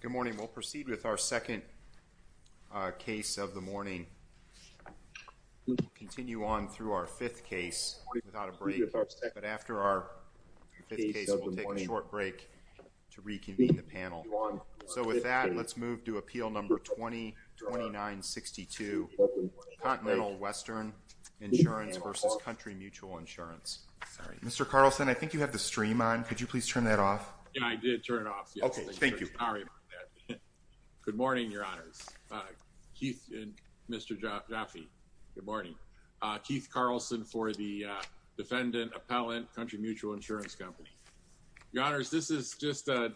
Good morning. We'll proceed with our second, uh, case of the morning. We'll continue on through our fifth case without a break, but after our fifth case, we'll take a short break to reconvene the panel. So with that, let's move to appeal number 20-29-62 Continental Western Insurance v. Country Mutual Insurance. Mr. Carlson, I think you have the stream on. Could you please turn that off? Yeah, I did turn it off. Okay. Thank you. Sorry about that. Good morning, Your Honors. Keith and Mr. Jaffe. Good morning. Keith Carlson for the defendant appellant, Country Mutual Insurance Company. Your Honors, this is just a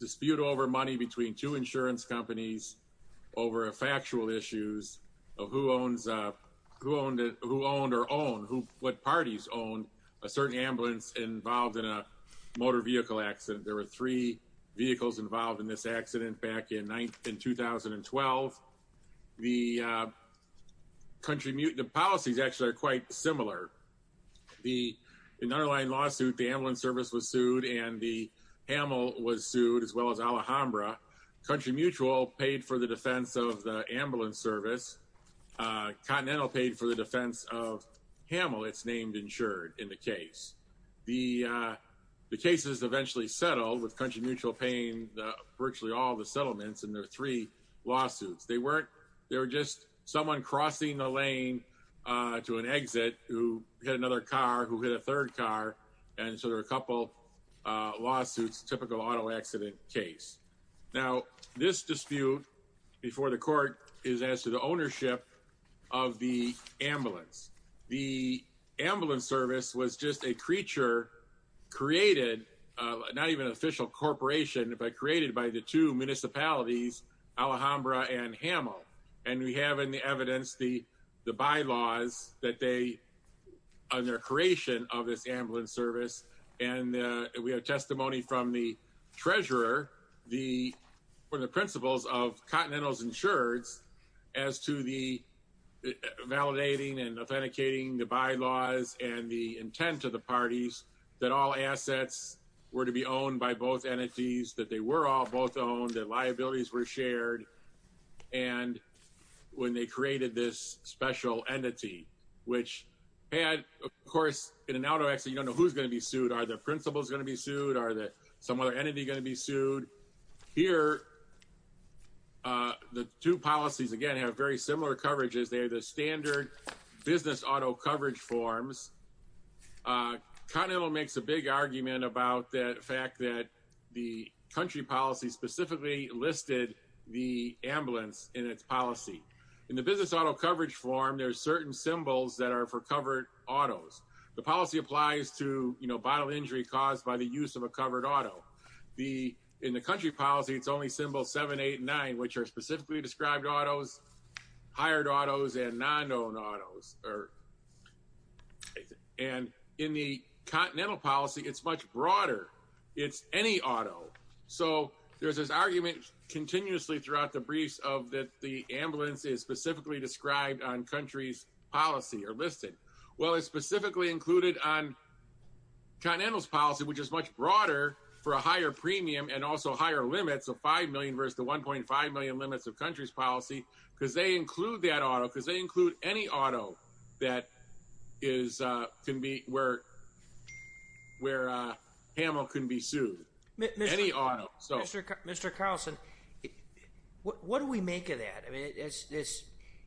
dispute over money between two insurance companies over a factual issues of who owns, who owned it, who owned or own, who, what parties owned, a certain ambulance involved in a motor vehicle accident. There were three vehicles involved in this accident back in 2012. The, uh, Country Mutual, the policies actually are quite similar. The underlying lawsuit, the ambulance service was sued and the Hamill was sued as well as Alhambra. Country Mutual paid for the defense of the ambulance service. Uh, Continental paid for the defense of Hamill, it's named insured in the case. The, uh, the case is eventually settled with Country Mutual paying virtually all the settlements in their three lawsuits. They weren't, they were just someone crossing the lane, uh, to an exit who had another car who hit a third car. And so there were a couple of lawsuits, typical auto accident case. Now this dispute before the court is as to the ownership of the ambulance. The ambulance service was just a creature created, uh, not even an official corporation, but created by the two municipalities, Alhambra and Hamill. And we have in the evidence, the, the bylaws that they, uh, their creation of this ambulance service. And, uh, we have testimony from the treasurer, the one of the principles of Continental's insureds as to the validating and authenticating the bylaws and the intent of the parties that all assets were to be owned by both entities, that they were all both owned, that liabilities were shared. And when they created this special entity, which had of course in an auto accident, you don't know who's going to be sued. Are the principles going to be sued? Are there some other entity going to be sued? Here? Uh, the two policies, again, have very similar coverages. They are the standard business auto coverage forms. Uh, Continental makes a big argument about that fact that the country policy specifically listed the ambulance in its policy. In the business auto coverage form, there are certain symbols that are for covered autos. The policy applies to, you know, bottle injury caused by the use of a covered auto. The, in the country policy, it's only symbol seven, eight, nine, which are specifically described autos, hired autos and non-owned autos. And in the Continental policy, it's much broader. It's any auto. So there's this argument continuously throughout the briefs of that the ambulance is specifically described on country's policy or listed. Well, it's specifically included on Continental's policy, which is much broader for a higher premium and also higher limits of 5 million versus the 1.5 million limits of country's policy because they include that auto because they include any auto that is, uh, can be, where, where, uh, Hamill couldn't be sued any auto. So Mr. Carlson, what, what do we make of that? I mean, it's, it's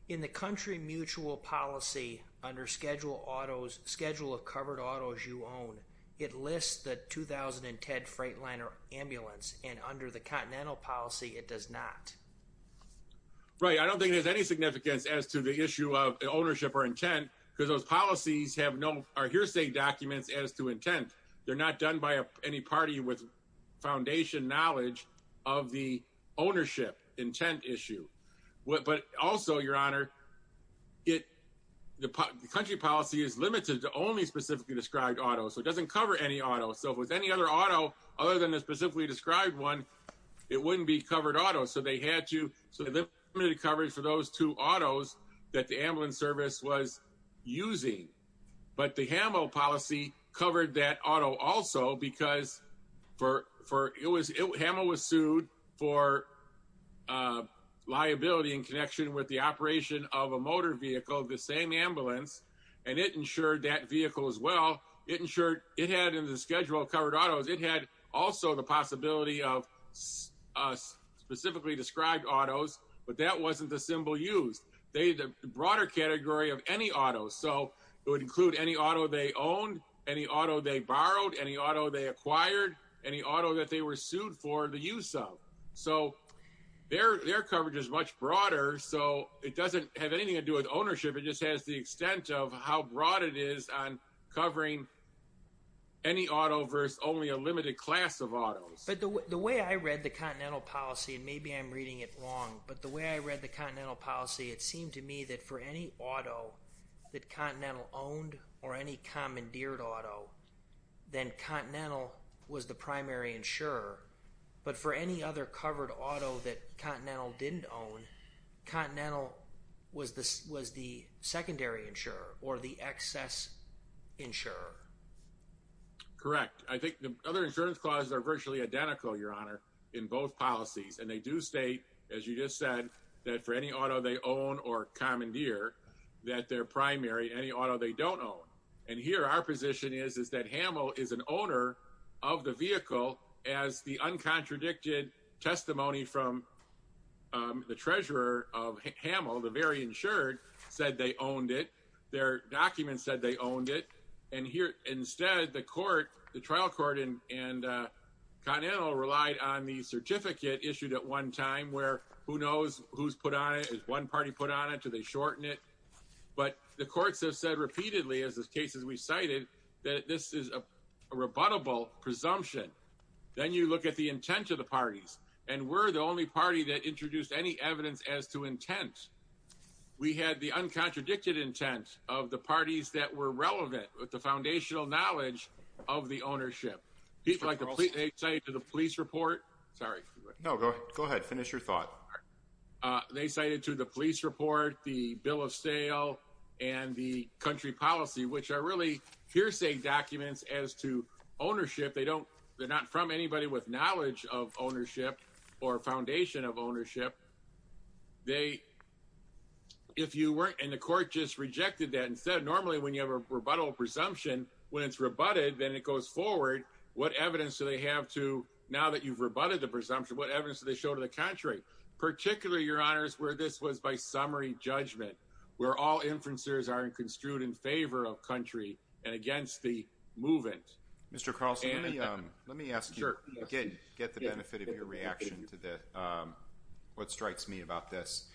in the country mutual policy under schedule autos schedule of covered autos you own. It lists the 2010 Freightliner ambulance and under the Continental policy, it does not. Right. I don't think there's any significance as to the issue of ownership or intent because those policies have no, are hearsay documents as to intent. They're not done by any party with foundation knowledge of the ownership intent issue. What, but also your honor, it, the country policy is limited to only specifically described auto. So it doesn't cover any auto. So if it was any other auto, other than the specifically described one, it wouldn't be covered auto. So they had to, so the limited coverage for those two autos that the ambulance service was using, but the Hamill policy covered that auto also because for, for it was, it, Hamill was sued for, uh, liability in connection with the operation of a motor vehicle, the same ambulance and it ensured that vehicle as well. It ensured it had in the schedule covered autos. It had also the possibility of us specifically described autos, but that wasn't the symbol used. They, the broader category of any auto. So it would include any auto they owned, any auto they borrowed, any auto they acquired, any auto that they were sued for the use of. So their, their coverage is much broader. So it doesn't have anything to do with ownership. It just has the extent of how broad it is on covering any auto versus only a limited class of autos. But the way I read the continental policy, and maybe I'm reading it wrong, but the way I read the continental policy, it seemed to me that for any auto that continental owned or any commandeered auto, then continental was the primary insurer. But for any other covered auto that continental didn't own continental was the, was the secondary insurer or the excess insurer. Correct. I think the other insurance clauses are virtually identical, your honor in both policies. And they do state, as you just said, that for any auto they own or commandeer that their primary, any auto they don't own. And here our position is, is that Hamill is an owner of the vehicle as the uncontradicted testimony from the treasurer of Hamill, the very insured said they owned it. Their documents said they owned it. And here instead, the court, the trial court and continental relied on the certificate issued at one time where who knows who's put on it, is one party put on it, do they shorten it? But the courts have said repeatedly, as the cases we cited, that this is a rebuttable presumption. Then you look at the intent of the parties and we're the only party that introduced any evidence as to intent. We had the uncontradicted intent of the parties that were relevant with the foundational knowledge of the ownership. People like the police, they say to the police report, sorry. No, go ahead. Go ahead. Finish your thought. Uh, they cited to the police report, the bill of sale and the country policy, which are really hearsay documents as to ownership. They don't, they're not from anybody with knowledge of ownership or foundation of ownership. They, if you weren't in the court, just rejected that. Instead of normally when you have a rebuttal presumption, when it's rebutted, then it goes forward. What evidence do they have to, now that you've rebutted the presumption, what evidence do they show to the country, particularly your honors, where this was by summary judgment, where all inferences are construed in favor of country and against the movement. Mr. Carlson, let me, um, let me ask you again, get the benefit of your reaction to the, um, what strikes me about this.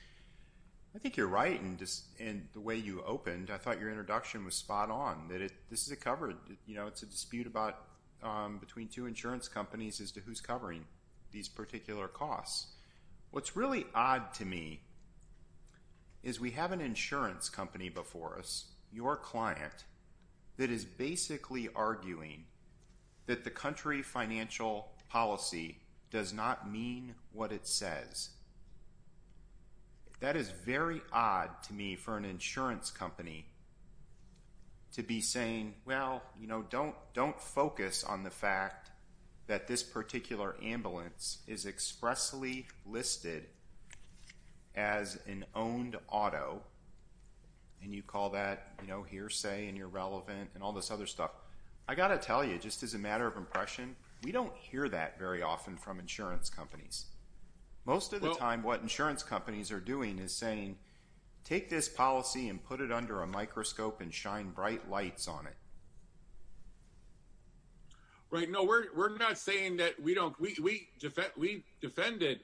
I think you're right. And just, and the way you opened, I thought your introduction was spot on that. It, this is a covered, you know, it's a dispute about, um, between two insurance companies as to who's covering these particular costs. What's really odd to me is we have an insurance company before us, your client that is basically arguing that the country financial policy does not mean what it says. That is very odd to me for an insurance company to be saying, well, you know, don't, don't focus on the fact that this particular ambulance is expressly listed as an owned auto. And you call that, you know, hearsay and you're relevant and all this other stuff. I got to tell you just as a matter of impression, we don't hear that very often from insurance companies. Most of the time, what insurance companies are doing is saying, take this policy and put it under a microscope and shine bright lights on it. Right? No, we're, we're not saying that we don't, we, we defend, we defended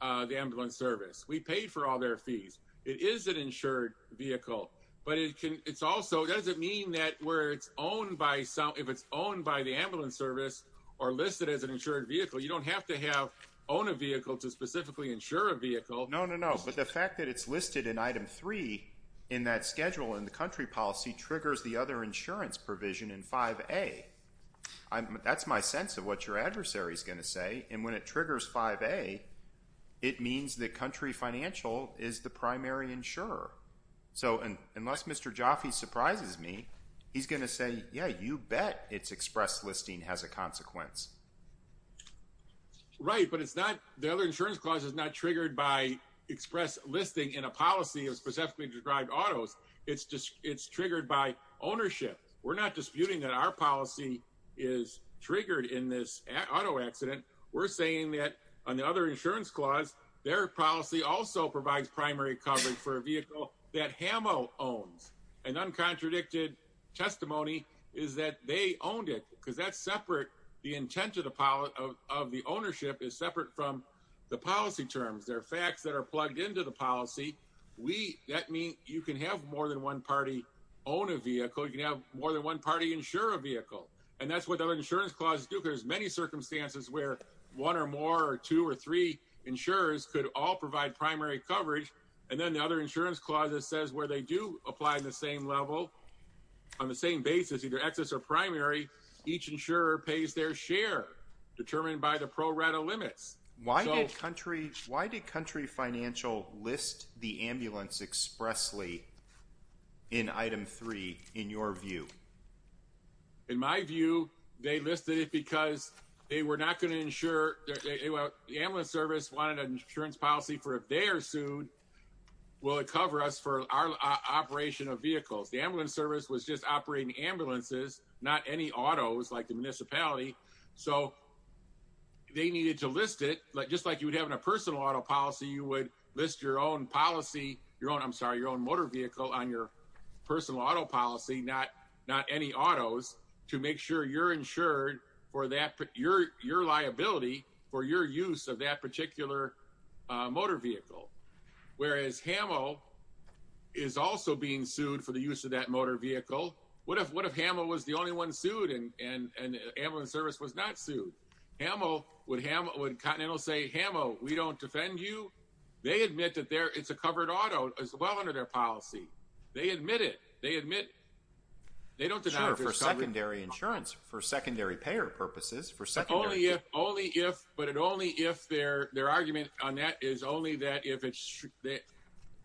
the ambulance service. We paid for all their fees. It is an insured vehicle, but it can, it's also, it doesn't mean that where it's owned by some, if it's owned by the ambulance service or listed as an insured vehicle, you don't have to have own a vehicle to specifically insure a vehicle. No, no, no. But the fact that it's listed in item three in that schedule in the country policy triggers the other insurance provision in five a I'm, that's my sense of what your adversary is going to say. And when it triggers five a it means the country financial is the primary insurer. So, and unless Mr. Jaffe surprises me, he's going to say, yeah, you bet it's express listing has a consequence. Right. But it's not, the other insurance clause is not triggered by express listing in a policy of specifically described autos. It's just, it's triggered by ownership. We're not disputing that our policy is triggered in this auto accident. We're saying that on the other insurance clause, their policy also provides primary coverage for a vehicle that Hamill owns. And uncontradicted testimony is that they owned it because that's separate. The intent of the pilot of the ownership is separate from the policy terms. There are facts that are plugged into the policy. We, that means you can have more than one party own a vehicle. You can have more than one party insure a vehicle. And that's what the other insurance clauses do. There's many circumstances where one or more or two or three insurers could all provide primary coverage. And then the other insurance clauses says where they do apply in the same level on the same basis, either excess or primary, each insurer pays their share determined by the pro rata limits. Why did country, why did country financial list the ambulance expressly in item three, in your view, in my view, they listed it because they were not going to ensure that the ambulance service wanted an insurance policy for if they are sued, will it cover us for our operation of vehicles? The ambulance service was just operating ambulances, not any autos like the municipality. So they needed to list it just like you would have in a personal auto policy. You would list your own policy, your own, I'm sorry, your own motor vehicle on your personal auto policy. Not, not any autos to make sure you're insured for that, your liability for your use of that particular motor vehicle. Whereas Hamill is also being sued for the use of that motor vehicle. What if, what if Hamill was the only one sued and ambulance service was not sued? Hamill would Hamill would continental say, Hamill we don't defend you. They admit that there it's a covered auto as well under their policy. They admit it. They admit they don't deny for secondary insurance for secondary payer purposes for second only if, only if, but it only if their, their argument on that is only that if it's that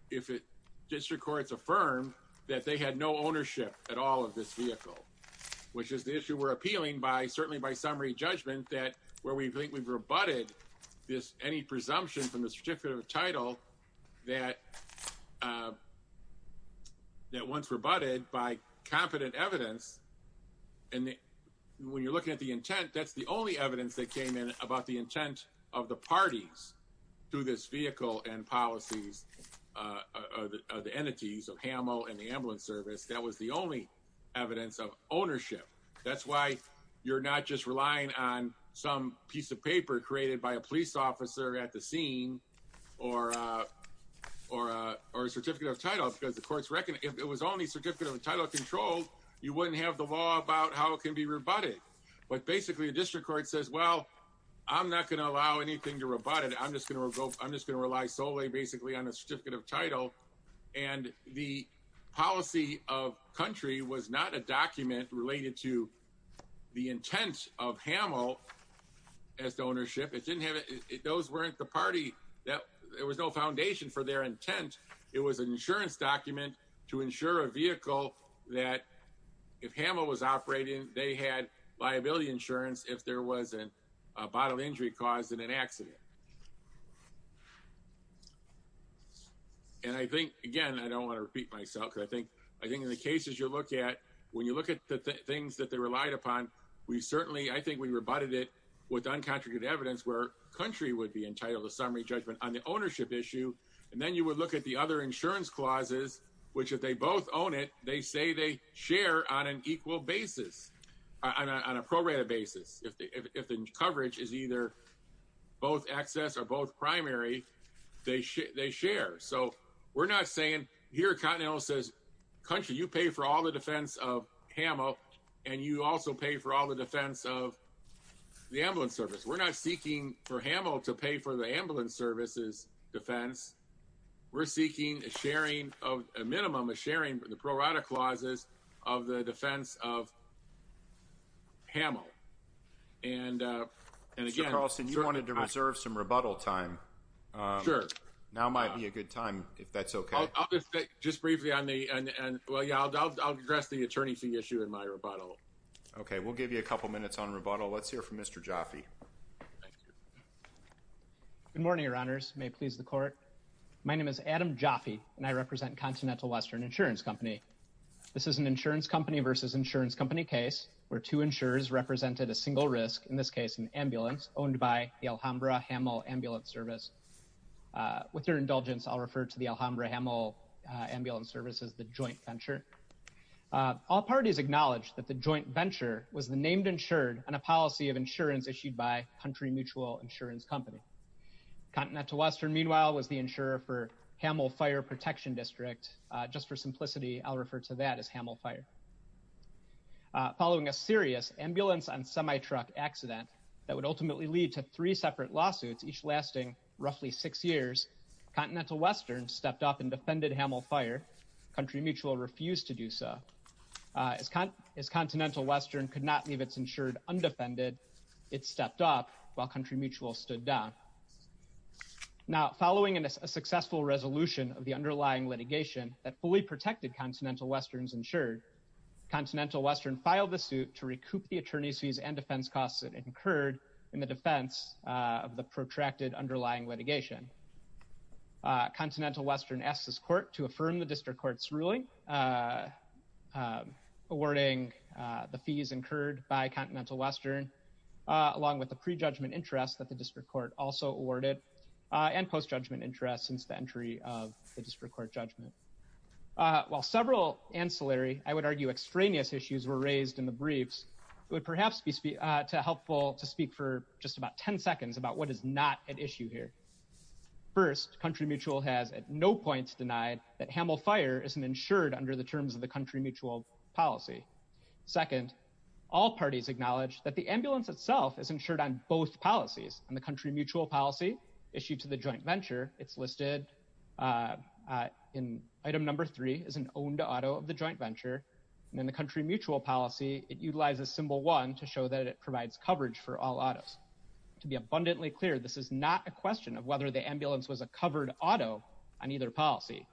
if it district courts affirm that they had no ownership at all of this vehicle, which is the issue we're appealing by certainly by summary judgment that where we think we've rebutted this, any presumption from the certificate of title that that once rebutted by competent evidence. And when you're looking at the intent, that's the only evidence that came in about the intent of the parties through this vehicle and policies of the entities of Hamill and the ambulance service. That was the only evidence of ownership. That's why you're not just relying on some piece of paper created by a police officer at the scene or a, or a, or a certificate of title because the courts reckon if it was only certificate of entitlement control, you wouldn't have the law about how it can be rebutted. But basically a district court says, well, I'm not going to allow anything to rebut it. I'm just going to go, I'm just going to rely solely basically on a certificate of title. And the policy of country was not a document related to the intent of Hamill as the ownership. It didn't have it. Those weren't the party that there was no foundation for their intent. It was an insurance document to ensure a vehicle that if Hamill was operating, they had liability insurance if there wasn't a bottle injury caused in an accident. And I think, again, I don't want to repeat myself because I think, I think in the cases you look at, when you look at the things that they relied upon, we certainly, I think we rebutted it with uncontroverted evidence where country would be entitled to summary judgment on the ownership issue. And then you would look at the other insurance clauses, which if they both own it, they say they share on an equal basis on a prorated basis. If the coverage is either both access or both primary, they share. So we're not saying here, continental says country, you pay for all the defense of Hamill and you also pay for all the defense of the ambulance service. We're not seeking for Hamill to pay for the ambulance services defense. We're seeking a sharing of a minimum of sharing the prorated clauses of the defense of Hamill. And, and again, Carlson, you wanted to reserve some rebuttal time. Now might be a good time if that's okay. Just briefly on the, and well, yeah, I'll, I'll, I'll address the attorney fee issue in my rebuttal. Okay. We'll give you a couple of minutes on rebuttal. Let's hear from Mr. Jaffe. Good morning, your honors may please the court. My name is Adam Jaffe and I represent continental Western insurance company. This is an insurance company versus insurance company case where two insurers represented a single risk. In this case, an ambulance owned by the Alhambra Hamill ambulance service. Uh, with your indulgence, I'll refer to the Alhambra Hamill ambulance services, the joint venture, uh, all parties acknowledged that the joint venture was the named insured and a policy of insurance issued by country mutual insurance company. Continental Western. Meanwhile, was the insurer for Hamill fire protection district. Uh, just for simplicity, I'll refer to that as Hamill fire, uh, following a serious ambulance on semi truck accident that would ultimately lead to three separate lawsuits, each lasting roughly six years, continental Western stepped up and defended Hamill fire country. Mutual refused to do so. Uh, as con is continental Western could not leave. It's insured undefended. It stepped up while country mutual stood down. Now, following a successful resolution of the underlying litigation that fully protected continental Western's insured continental Western filed the suit to recoup the attorney's fees and defense costs incurred in the defense of the protracted underlying litigation. Uh, continental Western SS court to affirm the district court's ruling, uh, um, awarding, uh, the fees incurred by continental Western, uh, the district court also awarded, uh, and post judgment interest since the entry of the district court judgment. Uh, while several ancillary, I would argue extraneous issues were raised in the briefs would perhaps be to helpful to speak for just about 10 seconds about what is not at issue here. First country mutual has at no points denied that Hamill fire isn't insured under the terms of the country mutual policy. Second, all parties acknowledge that the ambulance itself is insured on both policies. And the country mutual policy issued to the joint venture it's listed, uh, uh, in item number three is an owned auto of the joint venture. And then the country mutual policy, it utilizes symbol one to show that it provides coverage for all autos to be abundantly clear. This is not a question of whether the ambulance was a covered auto on either policy.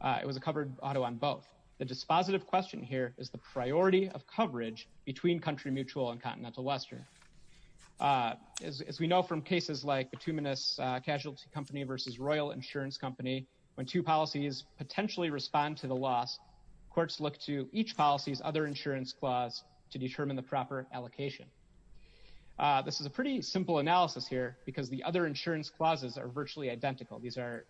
Uh, it was a covered auto on both the dispositive question here is the priority of coverage between country mutual and continental Western. Uh, as we know from cases like the two minutes, a casualty company versus Royal insurance company, when two policies potentially respond to the loss courts, look to each policies, other insurance clause to determine the proper allocation. Uh, this is a pretty simple analysis here because the other insurance clauses are virtually identical. These are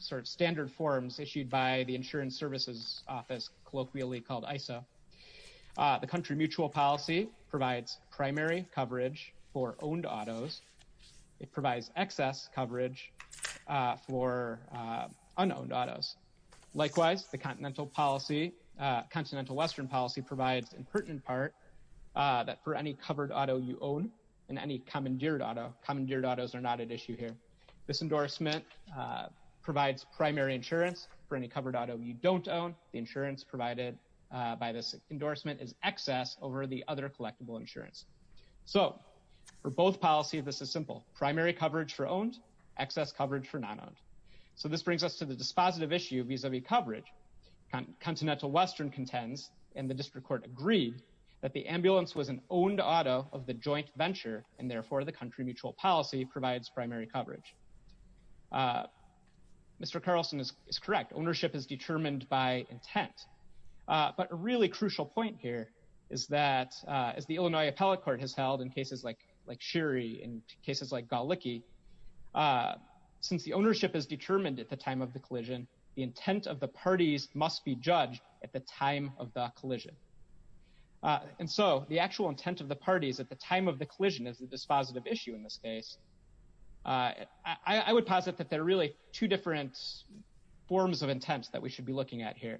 sort of standard forms issued by the insurance services office colloquially called ISO. Uh, the country mutual policy provides primary coverage for owned autos. It provides excess coverage, uh, for, uh, unowned autos. Likewise, the continental policy, uh, continental Western policy provides in pertinent part, uh, that for any covered auto you own and any common geared auto common geared autos are not at issue here. This endorsement, uh, provides primary insurance for any covered auto. You don't own the insurance provided, uh, by this endorsement is excess over the other collectible insurance. So for both policy, this is simple primary coverage for owned excess coverage for non-owned. So this brings us to the dispositive issue vis-a-vis coverage, continental Western contends. And the district court agreed that the ambulance was an owned auto of the joint venture. And therefore the country mutual policy provides primary coverage. Uh, Mr. Carlson is correct. Ownership is determined by intent. Uh, but a really crucial point here is that, uh, as the Illinois appellate court has held in cases like, like Sherry in cases like Galicky, uh, since the ownership is determined at the time of the collision, the intent of the parties must be judged at the time of the collision. Uh, and so the actual intent of the parties at the time of the collision is that this positive issue in this case, uh, I would posit that there are really two different forms of intents that we should be looking at here.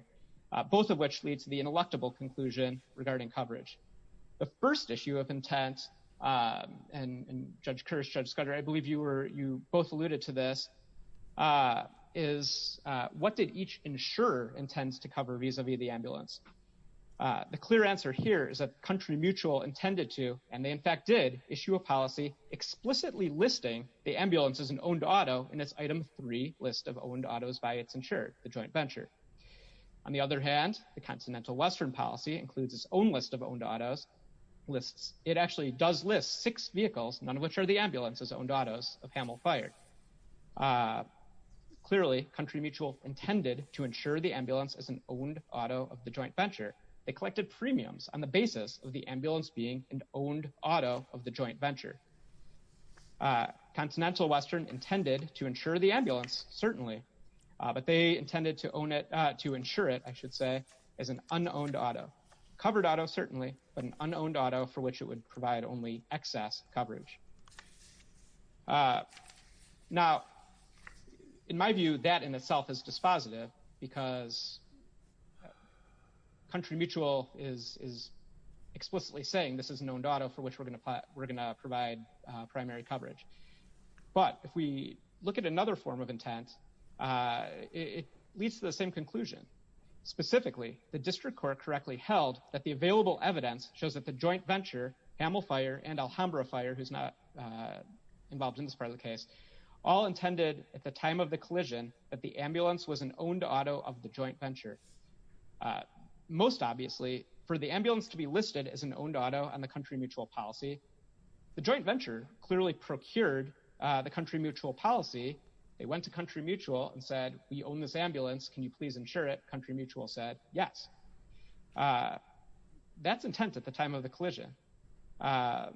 Uh, both of which leads to the ineluctable conclusion regarding coverage. The first issue of intent, uh, and judge curse judge Scudder, I believe you were, you both alluded to this, uh, is, uh, what did each insurer intends to cover vis-a-vis the ambulance? Uh, the clear answer here is that country mutual intended to, and they in fact did issue a policy explicitly listing the ambulance as an owned auto. And it's item three list of owned autos by it's insured the joint venture. On the other hand, the continental Western policy includes its own list of owned autos lists. It actually does list six vehicles, none of which are the ambulances owned autos of Hamel fire. Uh, clearly country mutual intended to ensure the ambulance as an owned auto of the joint venture. They collected premiums on the basis of the ambulance being an owned auto of the joint venture, uh, continental Western intended to ensure the ambulance certainly, uh, but they intended to own it, uh, to ensure it, I should say as an unowned auto covered auto, certainly, but an unowned auto for which it would provide only excess coverage. Uh, now in my view, that in itself is dispositive because country mutual is, is explicitly saying this is an owned auto for which we're going to apply. We're going to provide a primary coverage. But if we look at another form of intent, uh, it leads to the same conclusion specifically the district court correctly held that the available evidence shows that the joint venture Hamel fire and Alhambra fire, who's not, uh, involved in this part of the case all intended at the time of the collision, but the ambulance was an owned auto of the joint venture. Uh, most obviously for the ambulance to be listed as an owned auto and the country mutual policy, the joint venture clearly procured, uh, the country mutual policy. They went to country mutual and said, we own this ambulance. Can you please ensure it country mutual said yes. Uh, that's intent at the time of the collision. Uh,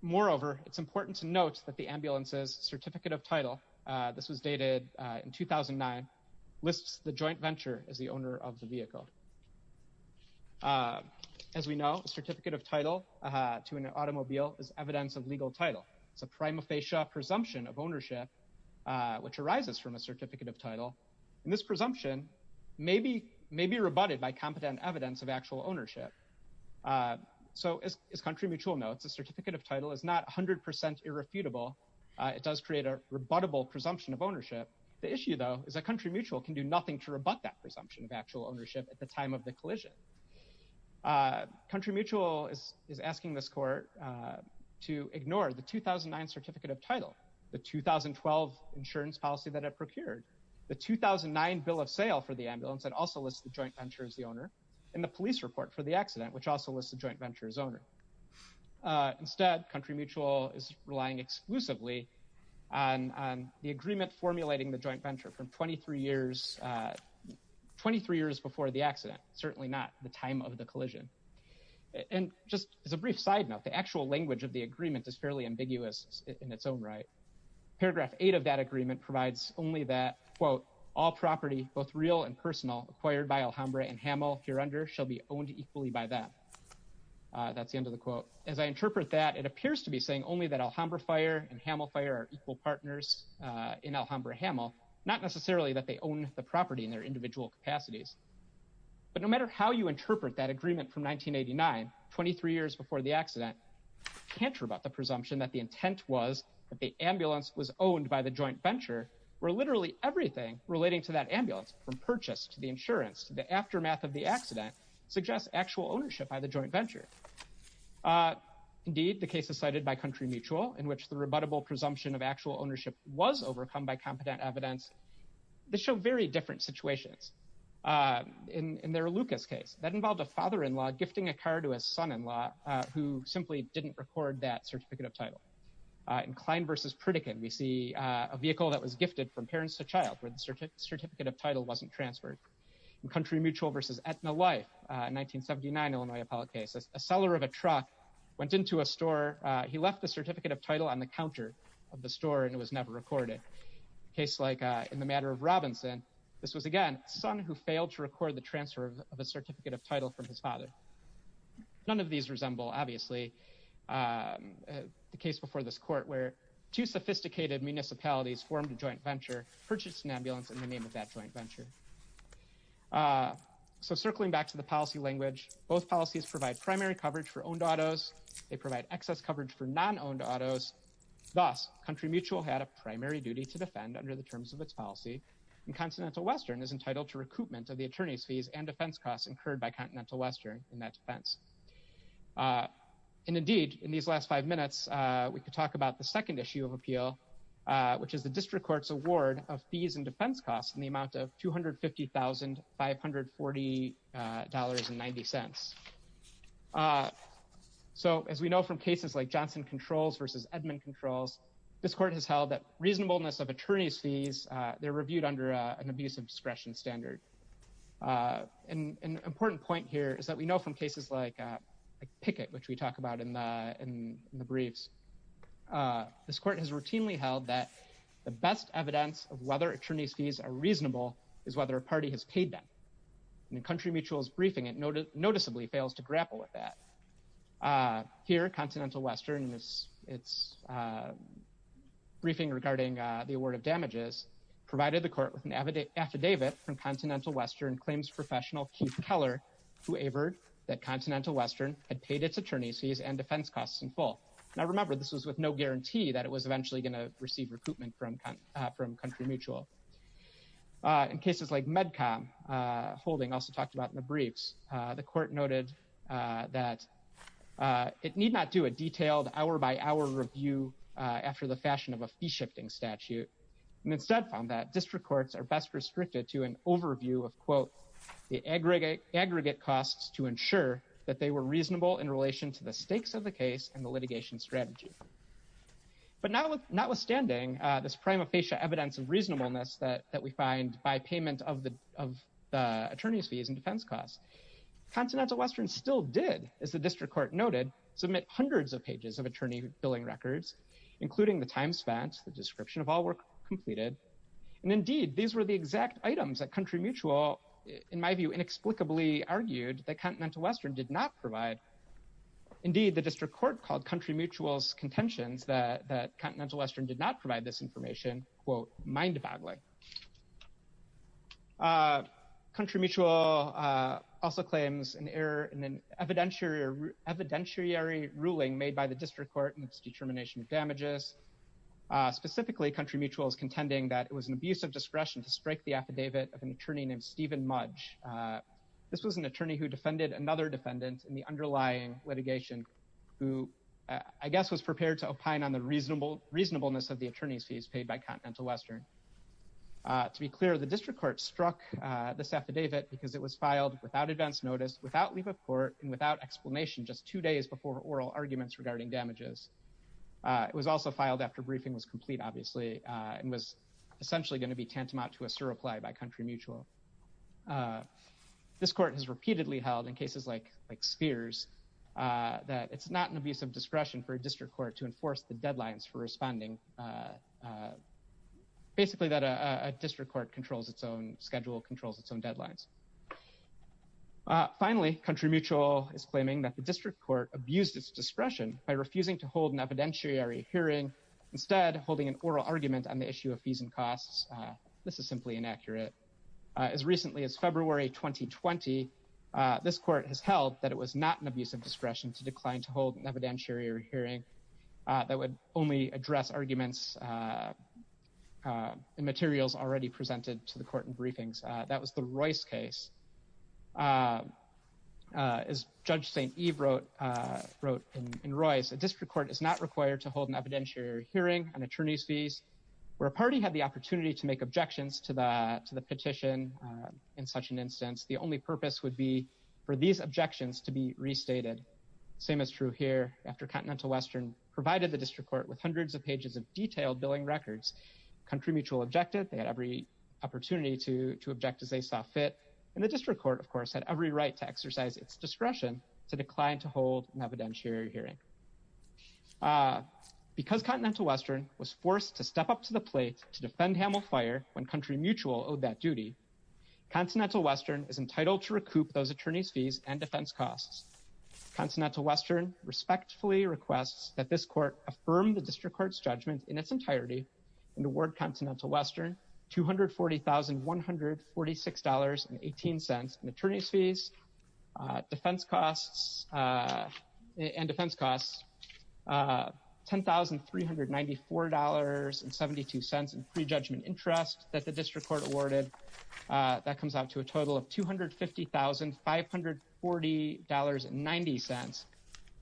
moreover, it's important to note that the ambulances certificate of title, uh, this was dated, uh, in 2009 lists, the joint venture is the owner of the vehicle. Uh, as we know, a certificate of title, uh, to an automobile is evidence of legal title. It's a prima facie presumption of ownership. Uh, which arises from a certificate of title and this presumption maybe, maybe rebutted by competent evidence of actual ownership. Uh, so as, as country mutual notes, a certificate of title is not a hundred percent irrefutable. Uh, it does create a rebuttable presumption of ownership. The issue though, is that country mutual can do nothing to rebut that presumption of actual ownership at the time of the collision. Uh, country mutual is, is asking this court, uh, to ignore the 2009 certificate of title, the 2012 insurance policy that I procured the 2009 bill of sale for the ambulance. That also lists the joint venture as the owner and the police report for the accident, which also lists the joint venture as owner. Uh, instead country mutual is relying exclusively on, on the agreement, formulating the joint venture from 23 years, uh, 23 years before the accident, certainly not the time of the collision. And just as a brief side note, the actual language of the agreement is fairly ambiguous in its own right. Paragraph eight of that agreement provides only that quote, all property, both real and personal acquired by Alhambra and Hamel here under shall be owned equally by that. Uh, that's the end of the quote. As I interpret that it appears to be saying only that Alhambra fire and Hamel fire are equal partners, uh, in Alhambra, Hamel, not necessarily that they own the property in their individual capacities, but no matter how you interpret that agreement from 1989, 23 years before the accident, can't rebut the presumption that the intent was that the ambulance was owned by the joint venture where literally everything relating to that ambulance from purchase to the insurance, the aftermath of the accident suggests actual ownership by the joint venture. Uh, indeed the case is cited by country mutual in which the rebuttable presumption of actual ownership was overcome by competent evidence. They show very different situations. Uh, in, uh, uh, who simply didn't record that certificate of title, inclined versus Pritikin. We see a vehicle that was gifted from parents to child where the search certificate of title wasn't transferred and country mutual versus at the life, uh, 1979, Illinois appellate cases, a seller of a truck went into a store. Uh, he left a certificate of title on the counter of the store and it was never recorded. Case like, uh, in the matter of Robinson, this was again, son who failed to record the transfer of a certificate of title from his father. None of these resemble obviously, um, the case before this court where two sophisticated municipalities formed a joint venture purchase an ambulance in the name of that joint venture. Uh, so circling back to the policy language, both policies provide primary coverage for owned autos. They provide excess coverage for non owned autos. Thus country mutual had a primary duty to defend under the terms of its policy and continental Western is entitled to recoupment of the attorney's fees and defense costs incurred by continental Western. And that defense, uh, and indeed in these last five minutes, uh, we could talk about the second issue of appeal, uh, which is the district court's award of fees and defense costs in the amount of 250,000, $540 and 90 cents. Uh, so as we know from cases like Johnson controls versus Edmund controls, this court has held that reasonableness of attorney's fees. Uh, they're reviewed under, uh, an abuse of discretion standard. Uh, and an important point here is that we know from cases like a picket, which we talk about in the, in the briefs, uh, this court has routinely held that the best evidence of whether attorney's fees are reasonable is whether a party has paid them and the country mutual is briefing. It noted noticeably fails to grapple with that. Uh, here, continental Western is it's, uh, briefing regarding, uh, the award of damages provided the court with an affidavit from continental Western claims professional Keith Keller, whoever that continental Western had paid its attorney's fees and defense costs in full. Now remember this was with no guarantee that it was eventually going to receive recoupment from, uh, from country mutual, uh, in cases like medcom, uh, holding also talked about in the briefs. Uh, the court noted, uh, that, uh, it need not do a detailed hour by hour review, uh, after the fashion of a fee shifting statute. And instead found that district courts are best restricted to an overview of quote the aggregate aggregate costs to ensure that they were reasonable in relation to the stakes of the case and the litigation strategy. But now with notwithstanding, uh, this prima facie evidence of reasonableness that, that we find by payment of the, of the attorney's fees and defense costs, continental Western still did as the district court noted, submit hundreds of pages of attorney billing records, including the time spent, the description of all work completed. And indeed, these were the exact items that country mutual in my view, inexplicably argued that continental Western did not provide. Indeed, the district court called country mutuals contentions that, that continental Western did not provide this information quote mindboggling, uh, country mutual, uh, also claims an error in an evidentiary evidentiary ruling made by the district court and its determination of damages, uh, specifically country mutuals contending that it was an abuse of discretion to strike the affidavit of an attorney named Steven Mudge. Uh, this was an attorney who defended another defendant in the underlying litigation who I guess was prepared to opine on the reasonable reasonableness of the attorney's fees paid by continental Western. Uh, to be clear, the district court struck, uh, this affidavit because it was filed without advanced notice without leave of court and without explanation, just two days before oral arguments regarding damages. Uh, it was also filed after briefing was complete, obviously, uh, and was essentially going to be tantamount to a surreply by country mutual. Uh, this court has repeatedly held in cases like, like spheres, uh, that it's not an abuse of discretion for a district court to enforce the deadlines for responding. Uh, uh, basically that, uh, a district court controls its own schedule, controls its own deadlines. Uh, finally country mutual is claiming that the district court abused its discretion by refusing to hold an evidentiary hearing instead of holding an oral argument on the issue of fees and costs. Uh, this is simply inaccurate. Uh, as recently as February, 2020, uh, this court has held that it was not an abuse of discretion to decline to hold an evidentiary hearing, uh, that would only address arguments, uh, uh, and materials already presented to the court and briefings. Uh, that was the Royce case. Uh, uh, as judge St. Eve wrote, uh, wrote in Royce, a district court is not required to hold an evidentiary hearing on attorney's fees where a party had the opportunity to make objections to the, to the petition. Uh, in such an instance, the only purpose would be for these objections to be restated. Same as true here after continental Western provided the district court with hundreds of pages of detailed billing records, country mutual objective. They had every opportunity to, to object as they saw fit. And the district court of course, had every right to exercise its discretion to decline, to hold an evidentiary hearing, uh, because continental Western was forced to step up to the plate to defend Hamel fire. When country mutual owed that duty, continental Western is entitled to recoup those attorney's fees and defense costs. Continental Western respectfully requests that this court affirm the district court's judgment in its entirety and award continental Western $240,146 and 18 cents and attorney's fees, uh, defense costs, uh, and defense costs, uh, $10,394 and 72 cents in pre-judgment interest that the district court awarded. Uh, that comes out to a total of $250,540 and 90 cents.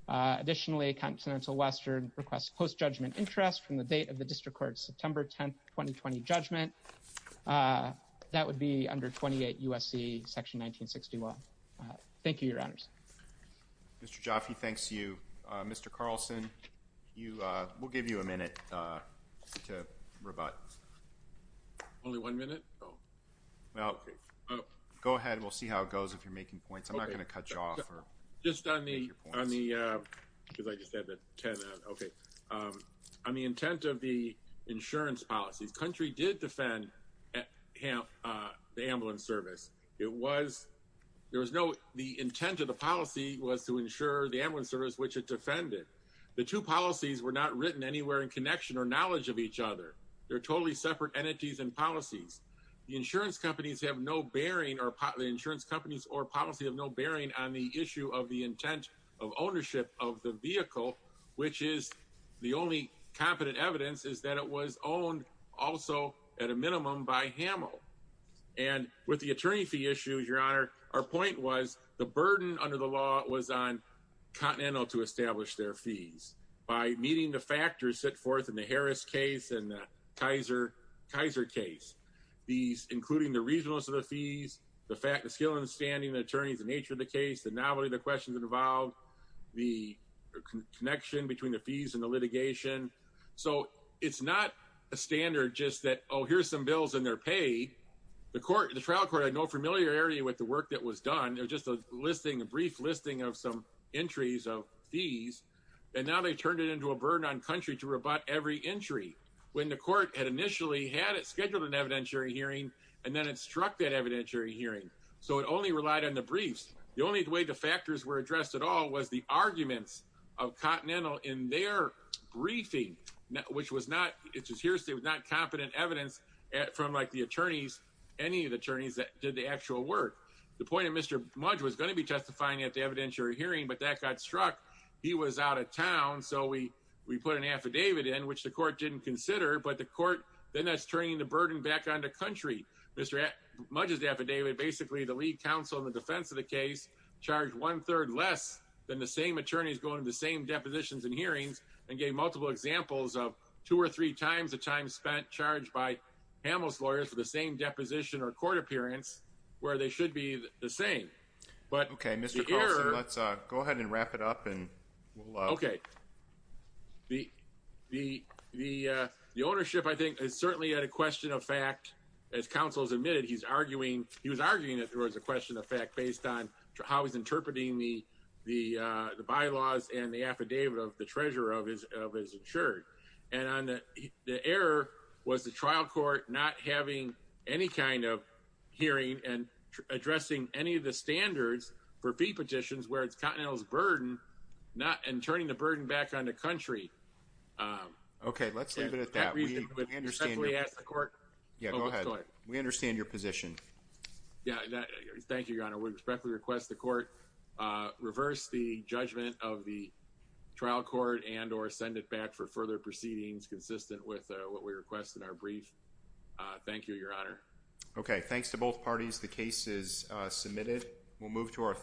Uh, additionally, continental Western requests post-judgment interest from the date of the district court, September 10th, 2020 judgment. Uh, that would be under 28 USC section 1961. Uh, thank you. Your honors. Mr. Jaffee. Thanks to you, uh, Mr. Carlson, you, uh, we'll give you a minute, uh, to rebut. Only one minute. Well, go ahead and we'll see how it goes. If you're making points, I'm not going to cut you off or just on the, on the, cause I just said that 10, okay. Um, I mean, intent of the insurance policies, country did defend at Ham, uh, the ambulance service. It was, there was no, the intent of the policy was to ensure the ambulance service, which it defended. The two policies were not written anywhere in connection or knowledge of each other. They're totally separate entities and policies. The insurance companies have no bearing or the insurance companies or policy of no bearing on the issue of the intent of ownership of the vehicle, which is the only competent evidence is that it was owned also at a minimum by Hamill and with the attorney fee issues, your honor. Our point was the burden under the law was on continental to establish their fees by meeting the factors set forth in the Harris case. And the Kaiser Kaiser case, these, including the reasonableness of the fees, the fact that skill and the standing attorneys, the nature of the case, the novelty, the questions involved the connection between the fees and the litigation. So it's not a standard just that, Oh, here's some bills in their pay. The court, the trial court, had no familiarity with the work that was done. It was just a listing, a brief listing of some entries of fees. And now they turned it into a burden on country to rebut every entry when the court had initially had it scheduled an evidentiary hearing, and then it struck that evidentiary hearing. So it only relied on the briefs. The only way the factors were addressed at all was the arguments of continental in their briefing, which was not, it just hearsay was not competent evidence from like the attorneys, any of the attorneys that did the actual work. The point of Mr. Mudge was going to be testifying at the evidentiary hearing, but that got struck. He was out of town. So we, we put an affidavit in which the court didn't consider, but the court, then that's turning the burden back on the country. Mr. Mudge's affidavit, basically the lead counsel in the defense of the case charged one third less than the same attorneys going to the same depositions and hearings and gave multiple examples of two or three times the time spent charged by Hamels lawyers for the same deposition or court appearance where they should be the same, but okay. Mr. Carlson, let's go ahead and wrap it up and we'll, okay. The, the, the, the ownership, I think is certainly at a question of fact, as counsel's admitted, he's arguing, he was arguing that there was a question of fact based on how he's interpreting the, the the bylaws and the affidavit of the treasurer of his, of his insured. And on the, the error was the trial court, not having any kind of hearing and addressing any of the standards for fee petitions, where it's Continental's burden, not in turning the burden back on the country. Um, okay. Let's leave it at that. We understand we asked the court. Yeah, go ahead. We understand your position. Yeah, that, thank you, your honor. We respectfully request the court, uh, reverse the judgment of the trial court and or send it back for further proceedings, consistent with what we request in our brief. Uh, thank you, your honor. Okay. Thanks to both parties. The case is submitted. We'll move to our.